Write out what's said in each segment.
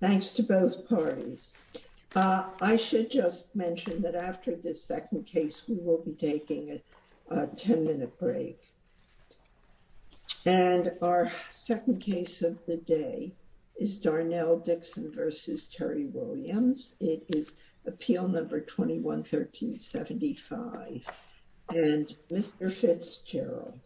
Thanks to both parties. I should just mention that after this second case we will be taking a 10-minute break. And our second case of the day is Darnell Dixon v. Terry Williams. It is appeal number 21-1375. And Mr. Fitzgerald.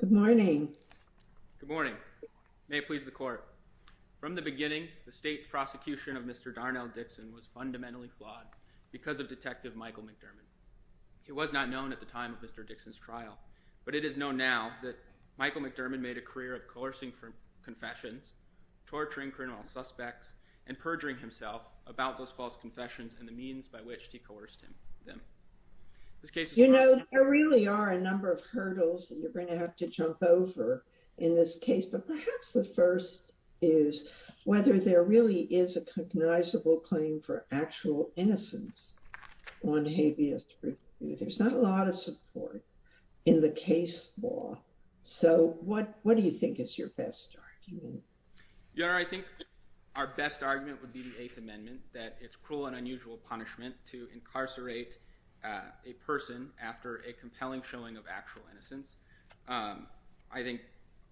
Good morning. Good morning. May it please the court. From the beginning the state's prosecution of Mr. Darnell Dixon was fundamentally flawed because of Detective Michael McDermott. He was not known at the time of Mr. Dixon's trial. But it is known now that Michael McDermott made a career of coercing confessions, torturing criminal suspects, and perjuring himself about those false confessions and the means by which he coerced them. You know, there really are a number of hurdles that you're going to have to jump over in this case. But perhaps the first is whether there really is a cognizable claim for actual innocence on habeas truth. There's not a lot of support in the case law. So what do you think is your best argument? Your Honor, I think our best argument would be the Eighth Amendment, that it's cruel and unusual punishment to incarcerate a person after a compelling showing of actual innocence. I think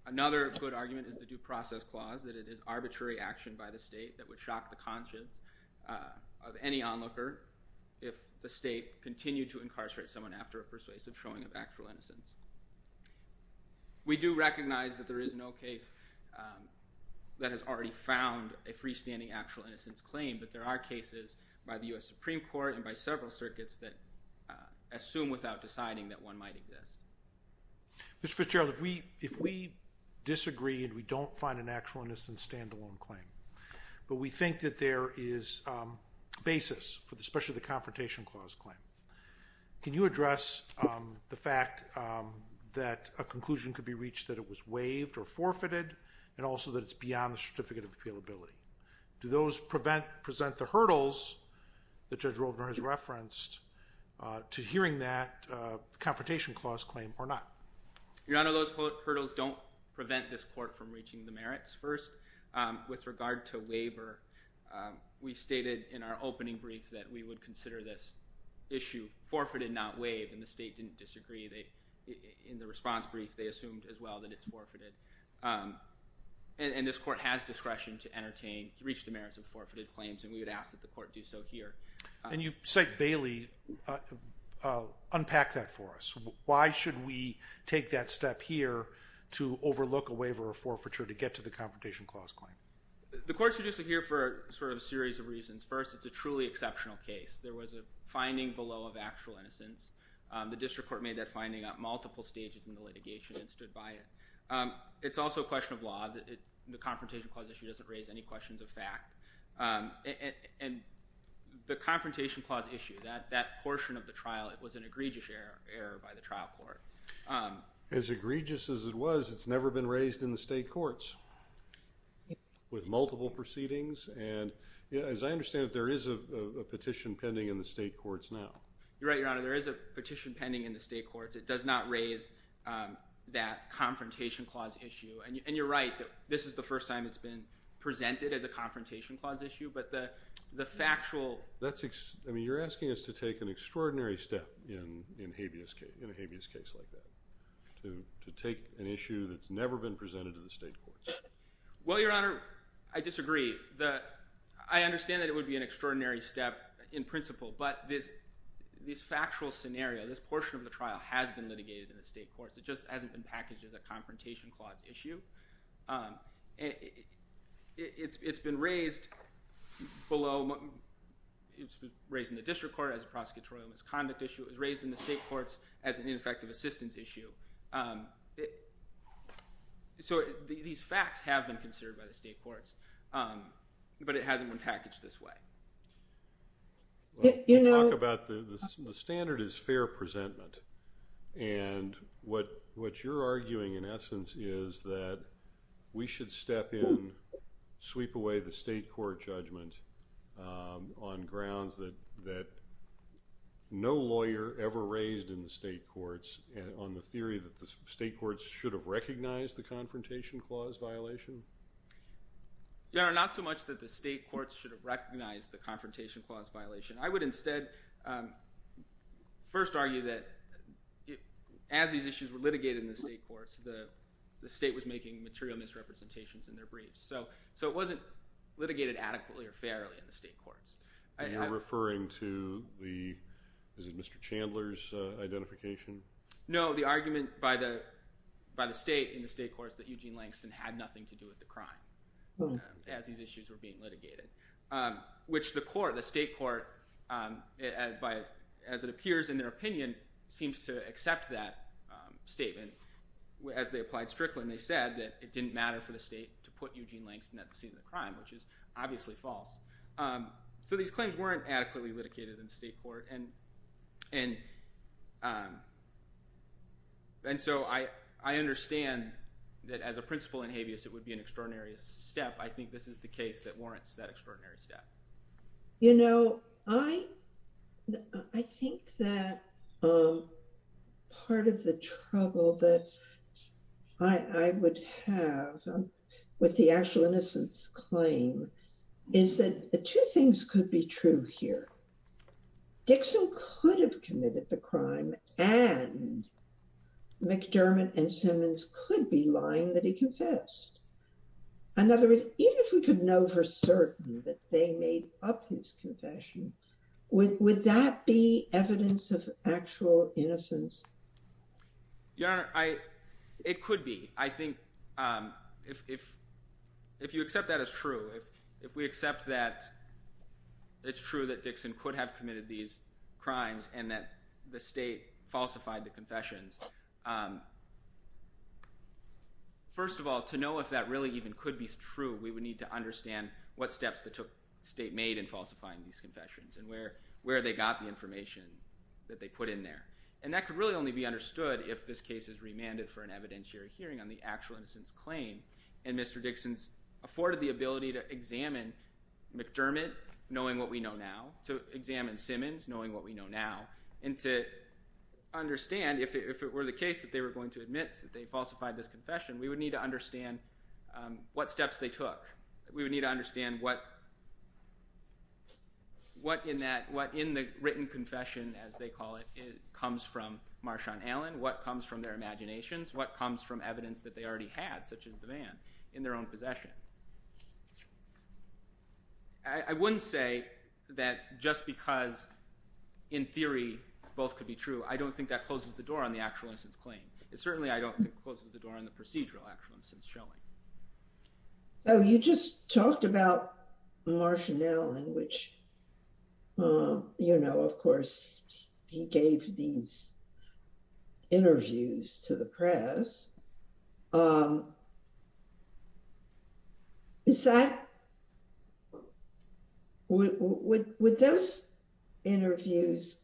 another good argument is the Due Process Clause, that it is arbitrary action by the state that would shock the conscience of any onlooker if the state continued to incarcerate someone after a persuasive showing of actual innocence. We do recognize that there is no case that has already found a freestanding actual innocence claim, but there are cases by the U.S. Supreme Court and by several circuits that assume without deciding that one might exist. Mr. Fitzgerald, if we disagree and we don't find an actual innocence stand-alone claim, but we think that there is basis for especially the Confrontation Clause claim, can you address the fact that a conclusion could be reached that it was waived or forfeited, and also that it's beyond the certificate of appealability? Do those present the hurdles that Judge Rovner has referenced to hearing that Confrontation Clause claim or not? Your Honor, those hurdles don't prevent this Court from reaching the merits. First, with regard to waiver, we stated in our opening brief that we would consider this issue forfeited, not waived, and the state didn't disagree. In the response brief, they assumed as well that it's forfeited. And this Court has discretion to entertain, reach the merits of forfeited claims, and we would ask that the Court do so here. And you cite Bailey. Unpack that for us. Why should we take that step here to overlook a waiver or forfeiture to get to the Confrontation Clause claim? The Court's reduced it here for a series of reasons. First, it's a truly exceptional case. There was a finding below of actual innocence. The District Court made that finding at multiple stages in the litigation and stood by it. It's also a question of law. The Confrontation Clause issue doesn't raise any questions of fact. And the Confrontation Clause issue, that portion of the trial, it was an egregious error by the trial court. As egregious as it was, it's never been raised in the state courts with multiple proceedings. And as I understand it, there is a petition pending in the state courts now. You're right, Your Honor. There is a petition pending in the state courts. It does not raise that Confrontation Clause issue. And you're right, this is the first time it's been presented as a Confrontation Clause issue. But the factual... You're asking us to take an extraordinary step in a habeas case like that, to take an issue that's never been presented to the state courts. Well, Your Honor, I disagree. I understand that it would be an extraordinary step in principle, but this factual scenario, this portion of the trial, has been litigated in the state courts. It just hasn't been packaged as a Confrontation Clause issue. It's been raised below... It's been raised in the district court as a prosecutorial misconduct issue. It was raised in the state courts as an ineffective assistance issue. So these facts have been considered by the state courts, but it hasn't been packaged this way. Well, you talk about the standard is fair presentment. And what you're arguing in essence is that we should step in, sweep away the state court judgment on grounds that no lawyer ever raised in the state courts on the theory that the state courts should have recognized the Confrontation Clause violation? Your Honor, not so much that the state courts should have recognized the Confrontation Clause violation. I would instead first argue that as these issues were litigated in the state courts, the state was making material misrepresentations in their briefs. So it wasn't litigated adequately or fairly in the state courts. And you're referring to the... Is it Mr. Chandler's identification? No, the argument by the state in the state courts that Eugene Langston had nothing to do with the court, as it appears in their opinion, seems to accept that statement. As they applied Strickland, they said that it didn't matter for the state to put Eugene Langston at the scene of the crime, which is obviously false. So these claims weren't adequately litigated in the state court. And so I understand that as a principle in habeas, it would be an extraordinary step. I think this is the case that warrants that extraordinary step. You know, I think that part of the trouble that I would have with the actual innocence claim is that two things could be true here. Dixon could have committed the crime and McDermott and Simmons could be lying that he confessed. In other words, even if we could know for certain that they made up his confession, would that be evidence of actual innocence? Your Honor, it could be. I think if you accept that as true, if we accept that it's true that Dixon could have committed these crimes and that the state falsified the confessions. First of all, to know if that really even could be true, we would need to understand what steps the state made in falsifying these confessions and where they got the information that they put in there. And that could really only be understood if this case is remanded for an evidentiary hearing on the actual innocence claim and Mr. Dixon's afforded the ability to examine McDermott, knowing what we know now, to examine Simmons, knowing what we know now, and to understand if it were the case that they were going to admit that they falsified this confession, we would need to understand what steps they took. We would need to understand what in the written confession, as they call it, comes from Marshawn Allen, what comes from their imaginations, what comes from evidence that they already had, such as the van, in their own possession. I wouldn't say that just because, in theory, both could be true. I don't think that closes the door on the actual innocence claim. It certainly, I don't think, closes the door on the procedural actual innocence showing. So you just talked about Marshawn Allen, which, you know, of course, he gave these to the press. Would those interviews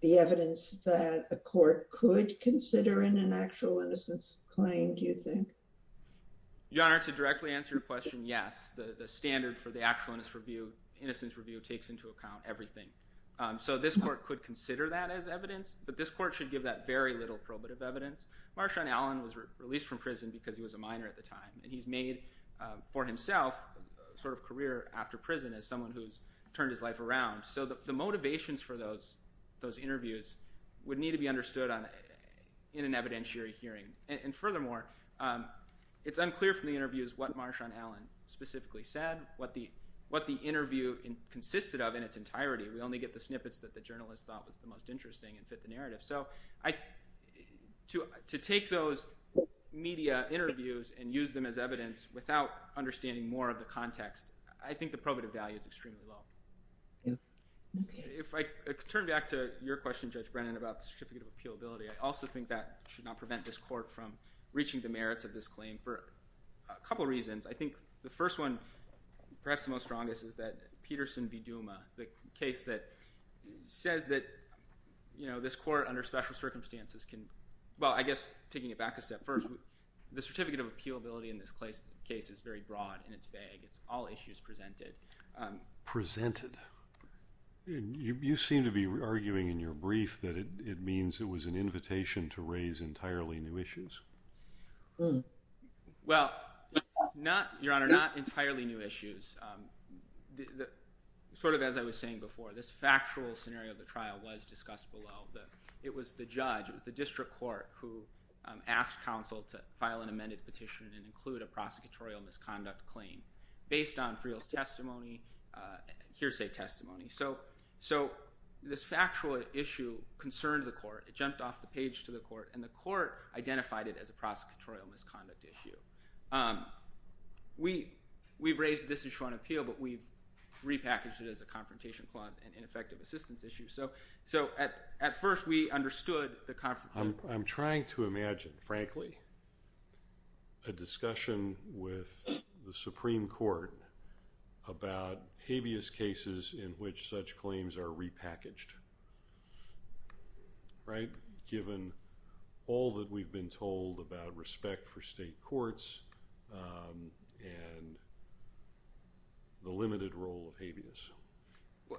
be evidence that a court could consider in an actual innocence claim, do you think? Your Honor, to directly answer your question, yes. The standard for the actual innocence review takes into account everything. So this court could consider that evidence, but this court should give that very little probative evidence. Marshawn Allen was released from prison because he was a minor at the time, and he's made, for himself, a sort of career after prison as someone who's turned his life around. So the motivations for those interviews would need to be understood in an evidentiary hearing. And furthermore, it's unclear from the interviews what Marshawn Allen specifically said, what the interview consisted of in its entirety. We only get the snippets that the journalists thought was the most interesting and fit the narrative. So to take those media interviews and use them as evidence without understanding more of the context, I think the probative value is extremely low. If I could turn back to your question, Judge Brennan, about the certificate of appealability, I also think that should not prevent this court from reaching the merits of this claim for a couple of reasons. I think the first one, perhaps the most strongest, is that Peterson v. Duma, the case that says that this court under special circumstances can, well, I guess taking it back a step first, the certificate of appealability in this case is very broad and it's vague. It's all issues presented. Presented? You seem to be arguing in your brief that it means it was an invitation to raise entirely new issues. Sort of as I was saying before, this factual scenario of the trial was discussed below. It was the judge, it was the district court who asked counsel to file an amended petition and include a prosecutorial misconduct claim based on Friel's testimony, hearsay testimony. So this factual issue concerned the court, it jumped off the page to the court, and the court identified it as a prosecutorial misconduct issue. We've raised this issue on appeal, but we've repackaged it as a confrontation clause and ineffective assistance issue. So at first we understood the conflict. I'm trying to imagine, frankly, a discussion with the Supreme Court about habeas cases in which such claims are repackaged, right, given all that we've been told about respect for state courts and the limited role of habeas.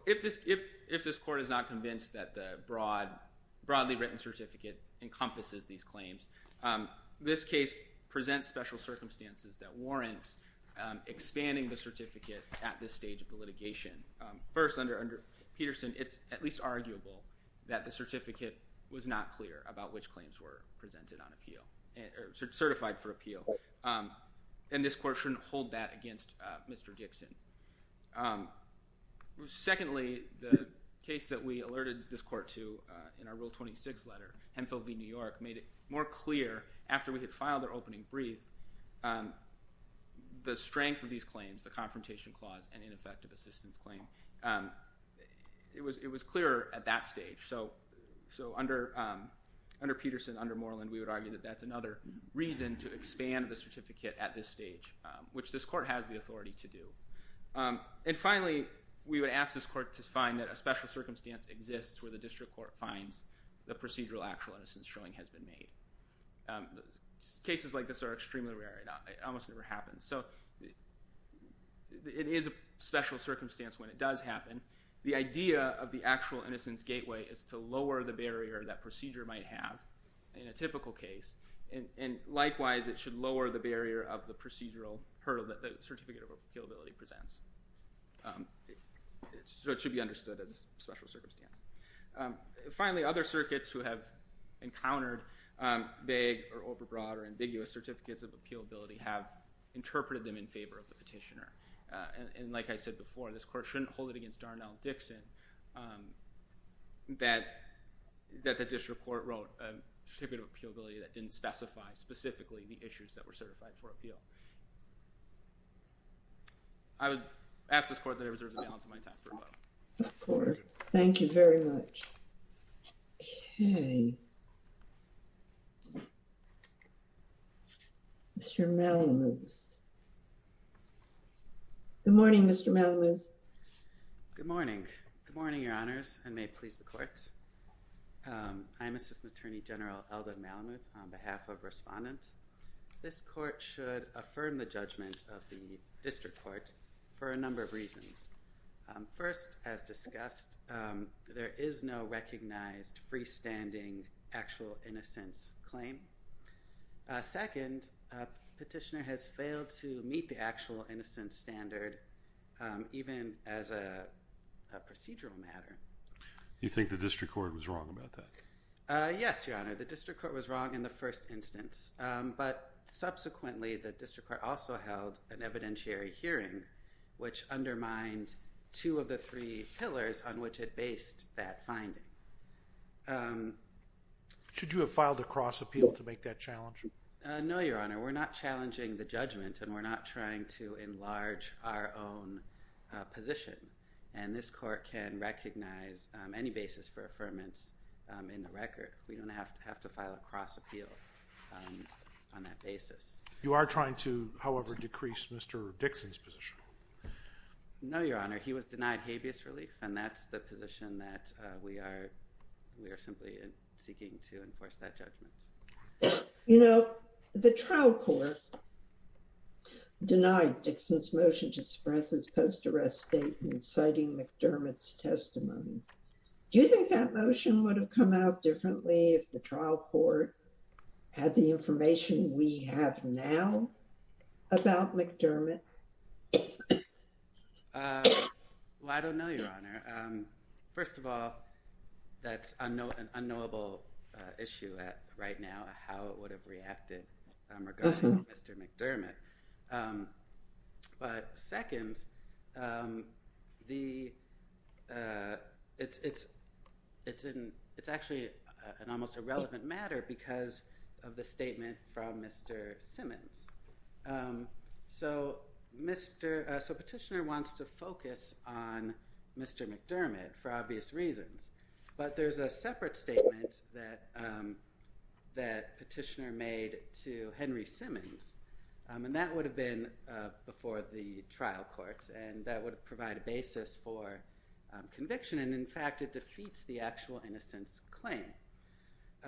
If this court is not convinced that the broadly written certificate encompasses these claims, this case presents special difficulties in expanding the certificate at this stage of the litigation. First, under Peterson, it's at least arguable that the certificate was not clear about which claims were presented on appeal or certified for appeal, and this court shouldn't hold that against Mr. Dixon. Secondly, the case that we alerted this court to in our Rule 26 letter, Hemphill v. New York, made it more clear after we had filed their opening brief, the strength of these claims, the confrontation clause and ineffective assistance claim, it was clearer at that stage. So under Peterson, under Moreland, we would argue that that's another reason to expand the certificate at this stage, which this court has the authority to do. And finally, we would ask this court to find that a special circumstance exists where the district court finds the procedural actual innocence showing has been made. Cases like this are extremely rare. It almost never happens. So it is a special circumstance when it does happen. The idea of the actual innocence gateway is to lower the barrier that procedure might have in a typical case, and likewise, it should lower the barrier of the procedural hurdle that the certificate of appealability presents. So it should be understood as a special circumstance. Finally, other circuits who have encountered vague or overbroad or ambiguous certificates of appealability have interpreted them in favor of the petitioner. And like I said before, this court shouldn't hold it against Darnell Dixon that the district court wrote a certificate of appealability that didn't specify specifically the issues that were certified for appeal. I would ask this court that I reserve the balance of my time for a moment. Of course. Thank you very much. Okay. Mr. Malamuth. Good morning, Mr. Malamuth. Good morning. Good morning, Your Honors, and may it please the courts. I am Assistant Attorney General Eldon Malamuth on behalf of Respondent. This court should affirm the judgment of the district court for a number of reasons. First, as discussed, there is no recognized freestanding actual innocence claim. Second, petitioner has failed to meet the actual innocence standard even as a procedural matter. You think the district court was wrong about that? Yes, Your Honor. The district court was wrong in the first instance, but subsequently the district court also held an evidentiary hearing which undermined two of the three pillars on which it based that finding. Should you have filed a cross appeal to make that challenge? No, Your Honor. We're not challenging the judgment and we're not trying to enlarge our own position. And this court can recognize any basis for affirmance in the record. We don't have to have to file a cross appeal on that basis. You are trying to, however, decrease Mr. Dixon's position? No, Your Honor. He was denied habeas relief and that's the position that we are we are simply seeking to enforce that judgment. You know, the trial court denied Dixon's motion to suppress his post-arrest statement citing McDermott's testimony. Do you think that motion would have come out differently if the trial court had the information we have now about McDermott? Well, I don't know, Your Honor. First of all, that's an unknowable issue right now, how it would have reacted regarding Mr. McDermott. But second, it's actually an almost irrelevant matter because of the statement from Mr. Simmons. So Petitioner wants to focus on Mr. McDermott for obvious reasons, but there's a separate statement that Petitioner made to Henry Simmons, and that would have been before the trial courts, and that would provide a basis for conviction. And in fact, it defeats the actual innocence claim.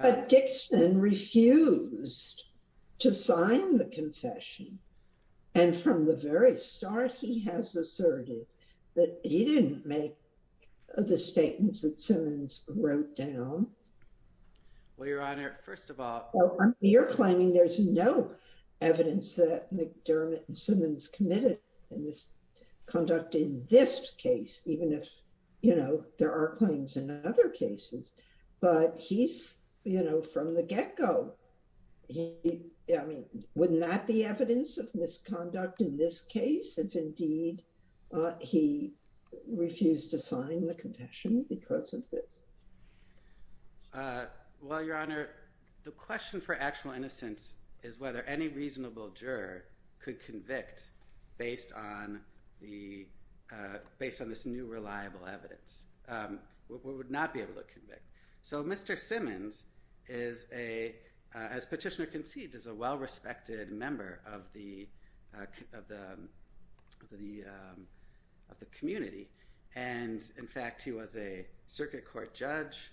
But Dixon refused to sign the confession. And from the very start, he has asserted that he didn't make the statements that Simmons wrote down. Well, Your Honor, first of all, You're claiming there's no evidence that McDermott and Simmons committed in this conduct in this case, even if, you know, there are claims in other cases, but he's, you know, from the get go. He, I mean, wouldn't that be evidence of misconduct in this case if indeed he refused to sign the confession because of this? Well, Your Honor, the question for actual innocence is whether any reasonable juror could convict based on this new reliable evidence. We would not be able to convict. So Mr. Simmons is a, as Petitioner concedes, is a well-respected member of the community. And in fact, he was a circuit court judge.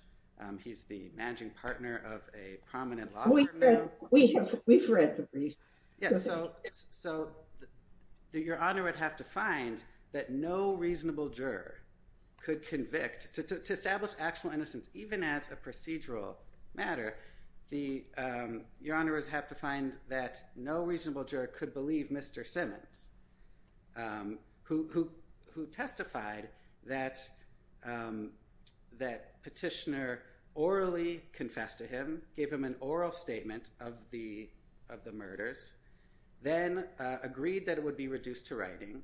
He's the managing partner of a prominent law firm now. We've read the briefs. Yeah, so Your Honor would have to find that no reasonable juror could convict to establish actual innocence, even as a procedural matter. Your Honor would have to find that no reasonable juror could believe Mr. Simmons, who testified that Petitioner orally confessed to him, gave him an oral statement of the murders, then agreed that it would be reduced to writing,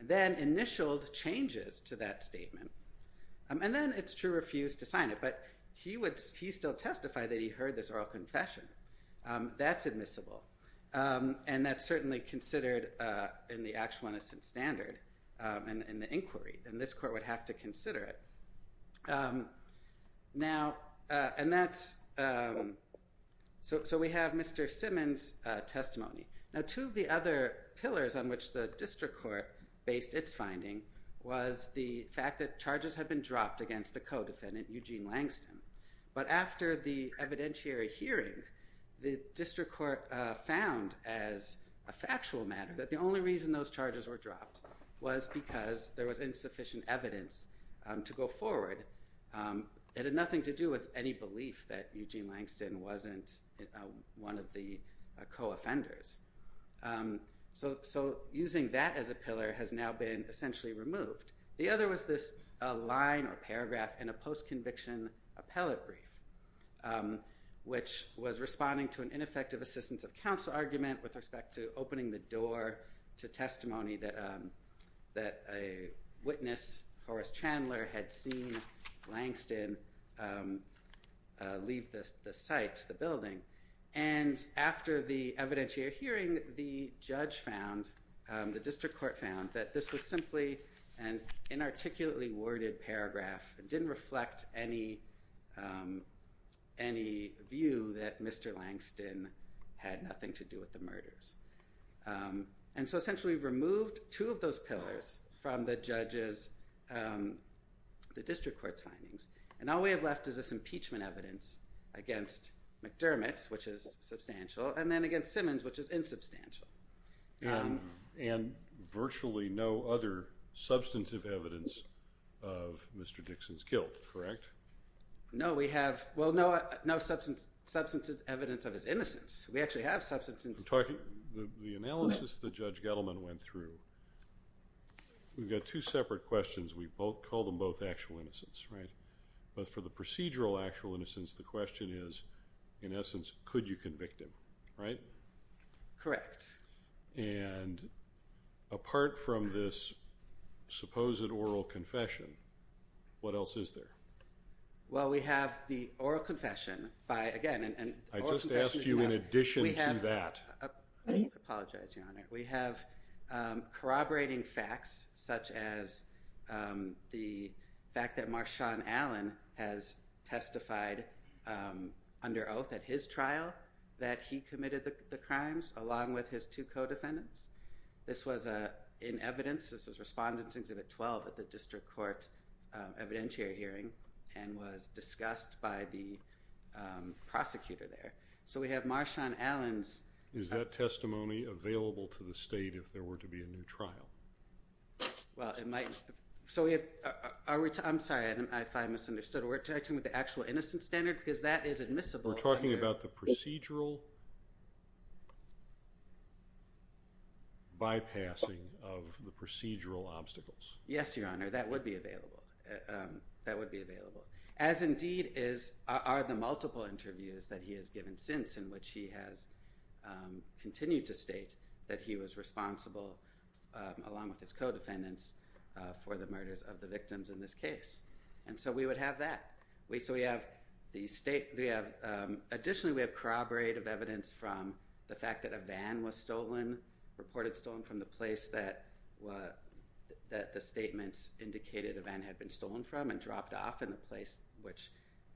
then initialed changes to that statement, and then, it's true, refused to sign it. But he would, he still testified that he heard this oral confession. That's admissible. And that's certainly considered in the actual innocence standard in the inquiry. And this court would have to consider it. Now, and that's, so we have Mr. Simmons' testimony. Now, two of the other things that the district court based its finding was the fact that charges had been dropped against a co-defendant, Eugene Langston. But after the evidentiary hearing, the district court found as a factual matter that the only reason those charges were dropped was because there was insufficient evidence to go forward. It had nothing to do with any belief that Eugene Langston wasn't one of the co-offenders. So using that as a pillar has now been essentially removed. The other was this line or paragraph in a post-conviction appellate brief, which was responding to an ineffective assistance of counsel argument with respect to opening the door to testimony that a witness, Horace Chandler, had seen Langston leave the site, the building. And after the evidentiary hearing, the judge found, the district court found that this was simply an inarticulately worded paragraph. It didn't reflect any view that Mr. Langston had nothing to do with the murders. And so essentially removed two of those pillars from the judge's, the district court's findings. And all we have left is this impeachment evidence against McDermott, which is substantial, and then against Simmons, which is insubstantial. And virtually no other substantive evidence of Mr. Dixon's guilt, correct? No, we have, well, no substantive evidence of his innocence. We actually have substance. I'm talking, the analysis that Judge Gettleman went through, we've got two separate questions. We both call them both actual innocence, right? But for the procedural actual innocence, the question is, in essence, could you convict him, right? Correct. And apart from this supposed oral confession, what else is there? Well, we have the oral confession by, again, and- I just asked you in addition to that. I apologize, Your Honor. We have Marshawn Allen has testified under oath at his trial that he committed the crimes along with his two co-defendants. This was in evidence. This was responded to at 12 at the district court evidentiary hearing and was discussed by the prosecutor there. So we have Marshawn Allen's- Is that testimony available to the state if there were to be a new trial? Well, it might. So we have, I'm sorry if I misunderstood. We're talking with the actual innocence standard because that is admissible. We're talking about the procedural bypassing of the procedural obstacles. Yes, Your Honor. That would be available. That would be available. As indeed are the multiple interviews that he has given since in which he has continued to state that he was responsible along with his co-defendants for the murders of the victims in this case. And so we would have that. So we have the state- Additionally, we have corroborative evidence from the fact that a van was stolen, reported stolen from the place that the statements indicated the van had been stolen from and dropped off in the place which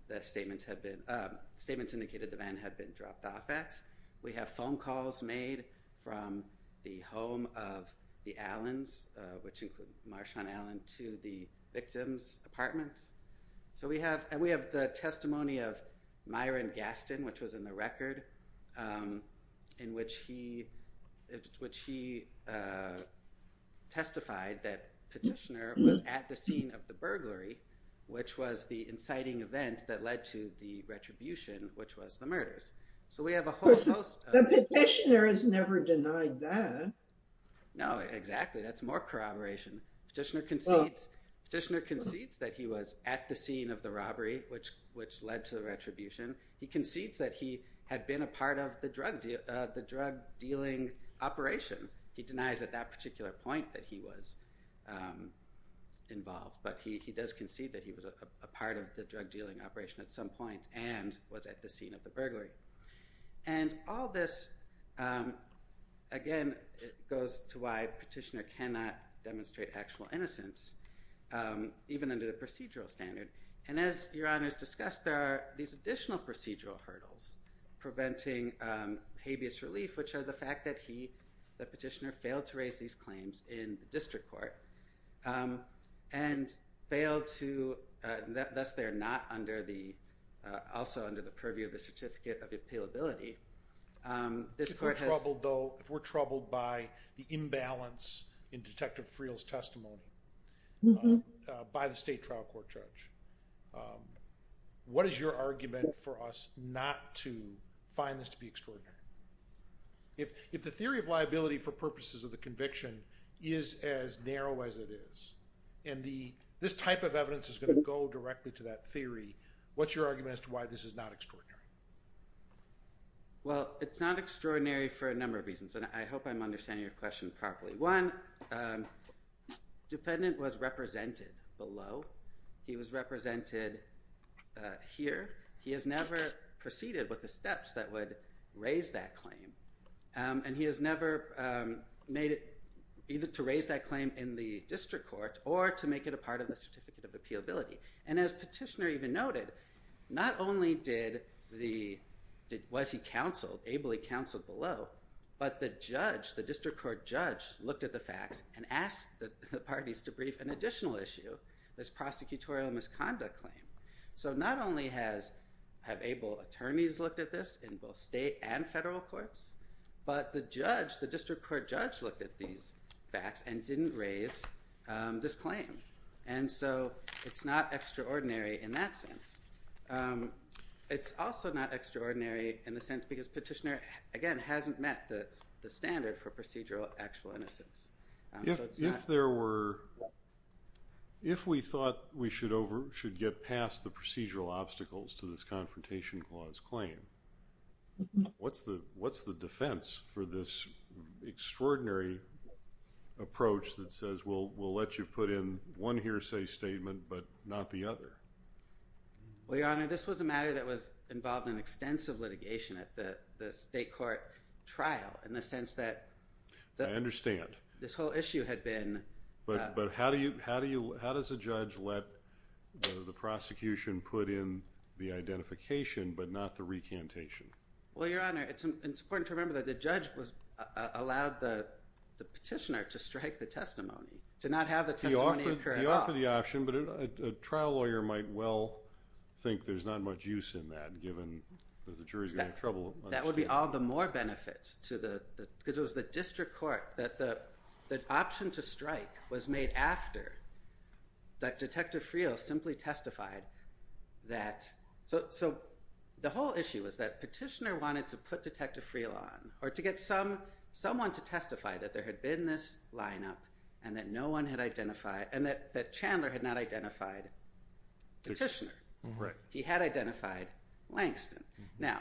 the statements indicated the van had been dropped off at. We have phone calls made from the home of the Allens, which include Marshawn Allen, to the victims' apartments. And we have the testimony of Myron Gaston, which was in the record in which he testified that Petitioner was at the scene of the burglary, which was the inciting event that led to the retribution, which was the murders. So we have a whole host of- But Petitioner has never denied that. No, exactly. That's more corroboration. Petitioner concedes that he was at the scene of the robbery, which led to the retribution. He concedes that he had been a part of the drug dealing operation. He denies at that particular point that he was involved, but he does concede that he was a part of the drug dealing operation at some point and was at the scene of the burglary. And all this, again, goes to why Petitioner cannot demonstrate actual innocence, even under the procedural standard. And as Your Honors discussed, there are these additional procedural hurdles preventing habeas relief, which are the fact that he, that Petitioner, failed to raise these claims in the case. And because they're not under the, also under the purview of the Certificate of Appealability, this court has- If we're troubled, though, if we're troubled by the imbalance in Detective Friel's testimony by the State Trial Court Judge, what is your argument for us not to find this to be extraordinary? If the theory of liability for purposes of the conviction is as narrow as it is, and the, this type of evidence is going to go directly to that theory, what's your argument as to why this is not extraordinary? Well, it's not extraordinary for a number of reasons, and I hope I'm understanding your question properly. One, defendant was represented below. He was represented here. He has never proceeded with the steps that would raise that claim. And he has never made it to raise that claim in the District Court or to make it a part of the Certificate of Appealability. And as Petitioner even noted, not only did the, was he counseled, ably counseled below, but the judge, the District Court judge looked at the facts and asked the parties to brief an additional issue, this prosecutorial misconduct claim. So not only has, have able attorneys looked at this in both state and federal courts, but the judge, the District Court judge looked at these facts and didn't raise this claim. And so it's not extraordinary in that sense. It's also not extraordinary in the sense because Petitioner, again, hasn't met the standard for procedural actual innocence. If there were, if we thought we should over, should get past the procedural obstacles to this Confrontation Clause claim, what's the, what's the defense for this extraordinary approach that says, we'll, we'll let you put in one hearsay statement, but not the other? Well, Your Honor, this was a matter that was involved in extensive litigation at the, the state court trial in the sense that... I understand. This whole issue had been... But, but how do you, how do you, how does a judge let the prosecution put in the identification, but not the recantation? Well, Your Honor, it's, it's important to remember that the judge was, allowed the, the Petitioner to strike the testimony, to not have the testimony occur at all. He offered, he offered the option, but a trial lawyer might well think there's not much use in that given that the jury's going to have trouble. That would be all the more benefit to the, because it was the District Court that the, that option to strike was made after that Detective Friel simply testified that... So, so the whole issue was that Petitioner wanted to put Detective Friel on, or to get some, someone to testify that there had been this lineup and that no one had identified, and that, that Chandler had not identified Petitioner. Right. He had identified Langston. Now,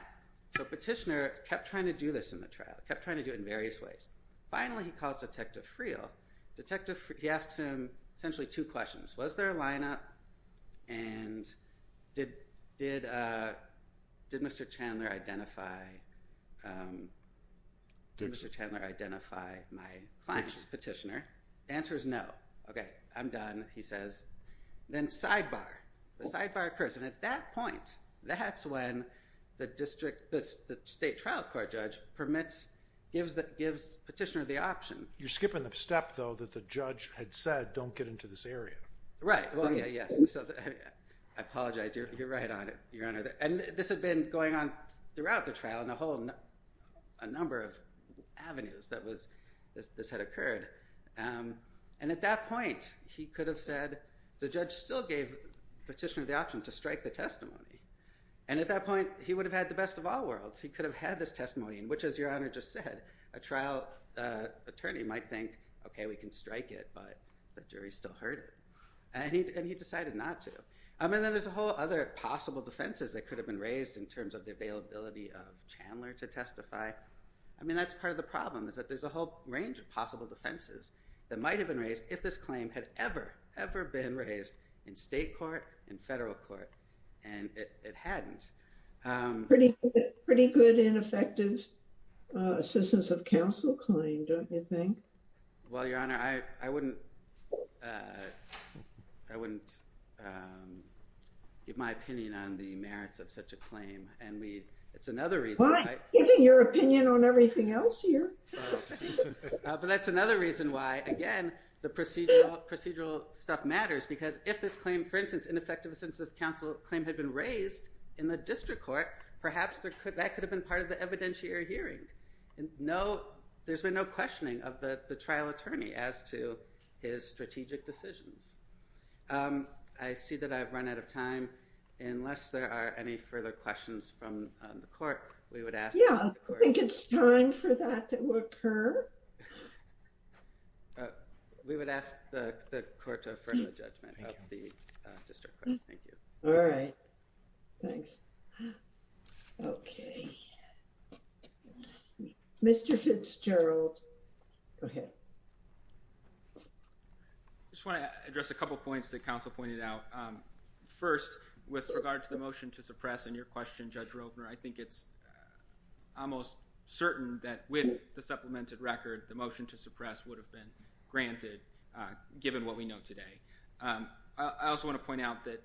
so Petitioner kept trying to do this in the trial, kept trying to do it in various ways. Finally, he calls Detective Friel. Detective, he asks him essentially two questions. Was there a lineup? And did, did, did Mr. Chandler identify, did Mr. Chandler identify my client, Petitioner? Answer is no. Okay, I'm done, he says. Then sidebar, the sidebar occurs, and at that point, that's when the District, the State Trial Court Judge permits, gives the, gives Petitioner the option. You're skipping the step, though, that the judge had said, don't get into this area. Right. Well, yeah, yes. I apologize. You're, you're right on it, Your Honor. And this had been going on throughout the trial in a whole, a number of avenues that was, this, this had occurred. And at that point, he could have said, the judge still gave Petitioner the option to strike the testimony. And at that point, he would have had the best of all worlds. He could have had this attorney might think, okay, we can strike it, but the jury still heard it. And he, and he decided not to. I mean, there's a whole other possible defenses that could have been raised in terms of the availability of Chandler to testify. I mean, that's part of the problem is that there's a whole range of possible defenses that might have been raised if this claim had ever, ever been raised in state court, in federal court, and it hadn't. Pretty, pretty good and effective assistance of counsel claim, don't you think? Well, Your Honor, I, I wouldn't, I wouldn't give my opinion on the merits of such a claim. And we, it's another reason. Well, I'm giving your opinion on everything else here. But that's another reason why, again, the procedural, procedural stuff matters, because if this claim, for instance, ineffective assistance of counsel claim had been raised in the district court, perhaps there could, that could have been part of the evidentiary hearing. And no, there's been no questioning of the trial attorney as to his strategic decisions. I see that I've run out of time. Unless there are any further questions from the court, we would ask. Yeah, I think it's time for that to occur. We would ask the court to affirm the judgment of the district court. Thank you. All right. Thanks. Okay. Mr. Fitzgerald. Go ahead. I just want to address a couple of points that counsel pointed out. First, with regard to the motion to suppress and your question, Judge Rovner, I think it's almost certain that with the supplemented record, the motion to suppress would have been granted given what we know today. I also want to point out that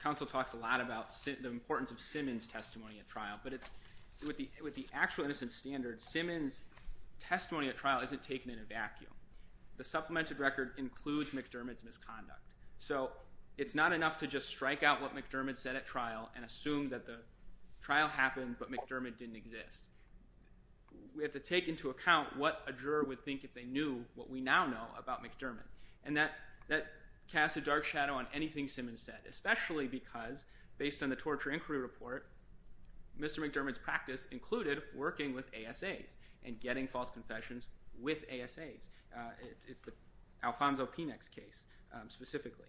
counsel talks a lot about the importance of Simmons' testimony at trial, but with the actual innocent standard, Simmons' testimony at trial isn't taken in a vacuum. The supplemented record includes McDermott's misconduct. So it's not enough to just strike out what McDermott said at trial and assume that the trial happened, but McDermott didn't exist. We have to take into account what a juror would think if they knew what we now know about McDermott. And that casts a dark shadow on Simmons' testimony, especially because, based on the torture inquiry report, Mr. McDermott's practice included working with ASAs and getting false confessions with ASAs. It's the Alfonso Penex case specifically.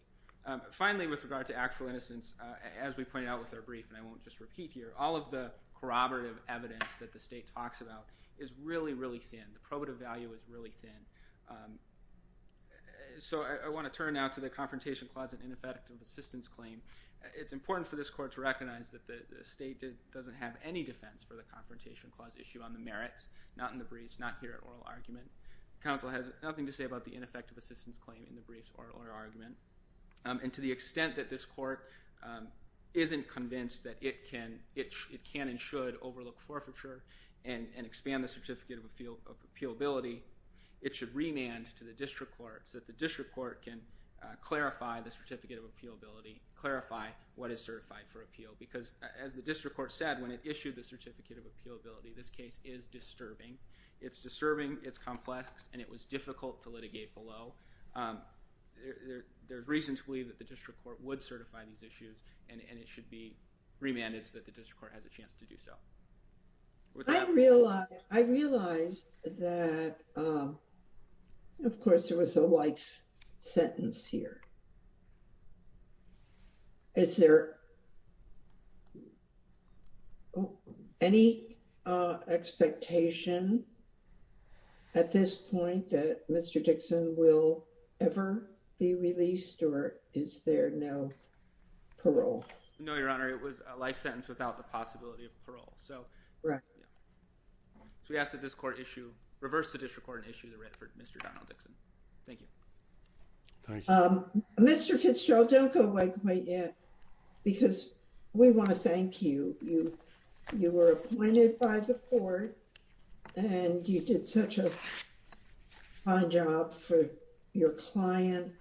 Finally, with regard to actual innocence, as we pointed out with our brief, and I won't just repeat here, all of the corroborative evidence that the state talks about is really, really thin. The probative value is really thin. So I want to turn now to the confrontation clause and ineffective assistance claim. It's important for this court to recognize that the state doesn't have any defense for the confrontation clause issue on the merits, not in the briefs, not here at oral argument. The counsel has nothing to say about the ineffective assistance claim in the briefs or oral argument. And to the extent that this court isn't convinced that it can and should overlook forfeiture and expand the Certificate of Appealability, it should remand to the district court so that the district court can clarify the Certificate of Appealability, clarify what is certified for appeal. Because as the district court said when it issued the Certificate of Appealability, this case is disturbing. It's disturbing, it's complex, and it was difficult to litigate below. There's reason to believe that the district court would certify these issues and it should be I realized that, of course, there was a life sentence here. Is there any expectation at this point that Mr. Dixon will ever be released or is there no parole? No, Your Honor. It was a life sentence without the possibility of parole. So we ask that this court issue, reverse the district court and issue the red for Mr. Donald Dixon. Thank you. Mr. Fitzgerald, don't go away quite yet because we want to thank you. You were appointed by the court and you did such a fine job for your client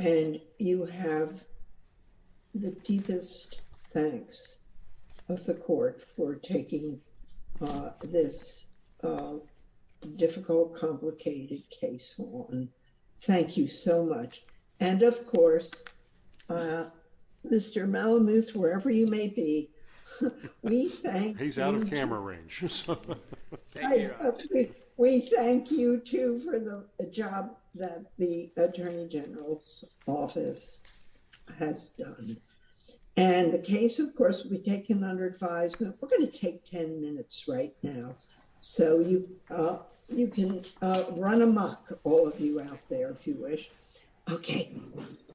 and you have the deepest thanks of the court for taking this difficult, complicated case on. Thank you so much. And of course, Mr. Malamuth, wherever you may be, we thank you. He's out of camera range. Thank you. We thank you, too, for the job that the attorney general's office has done. And the case, of course, we take him under advisement. We're going to take 10 minutes right now, so you can run amok, all of you out there, if you wish. Okay.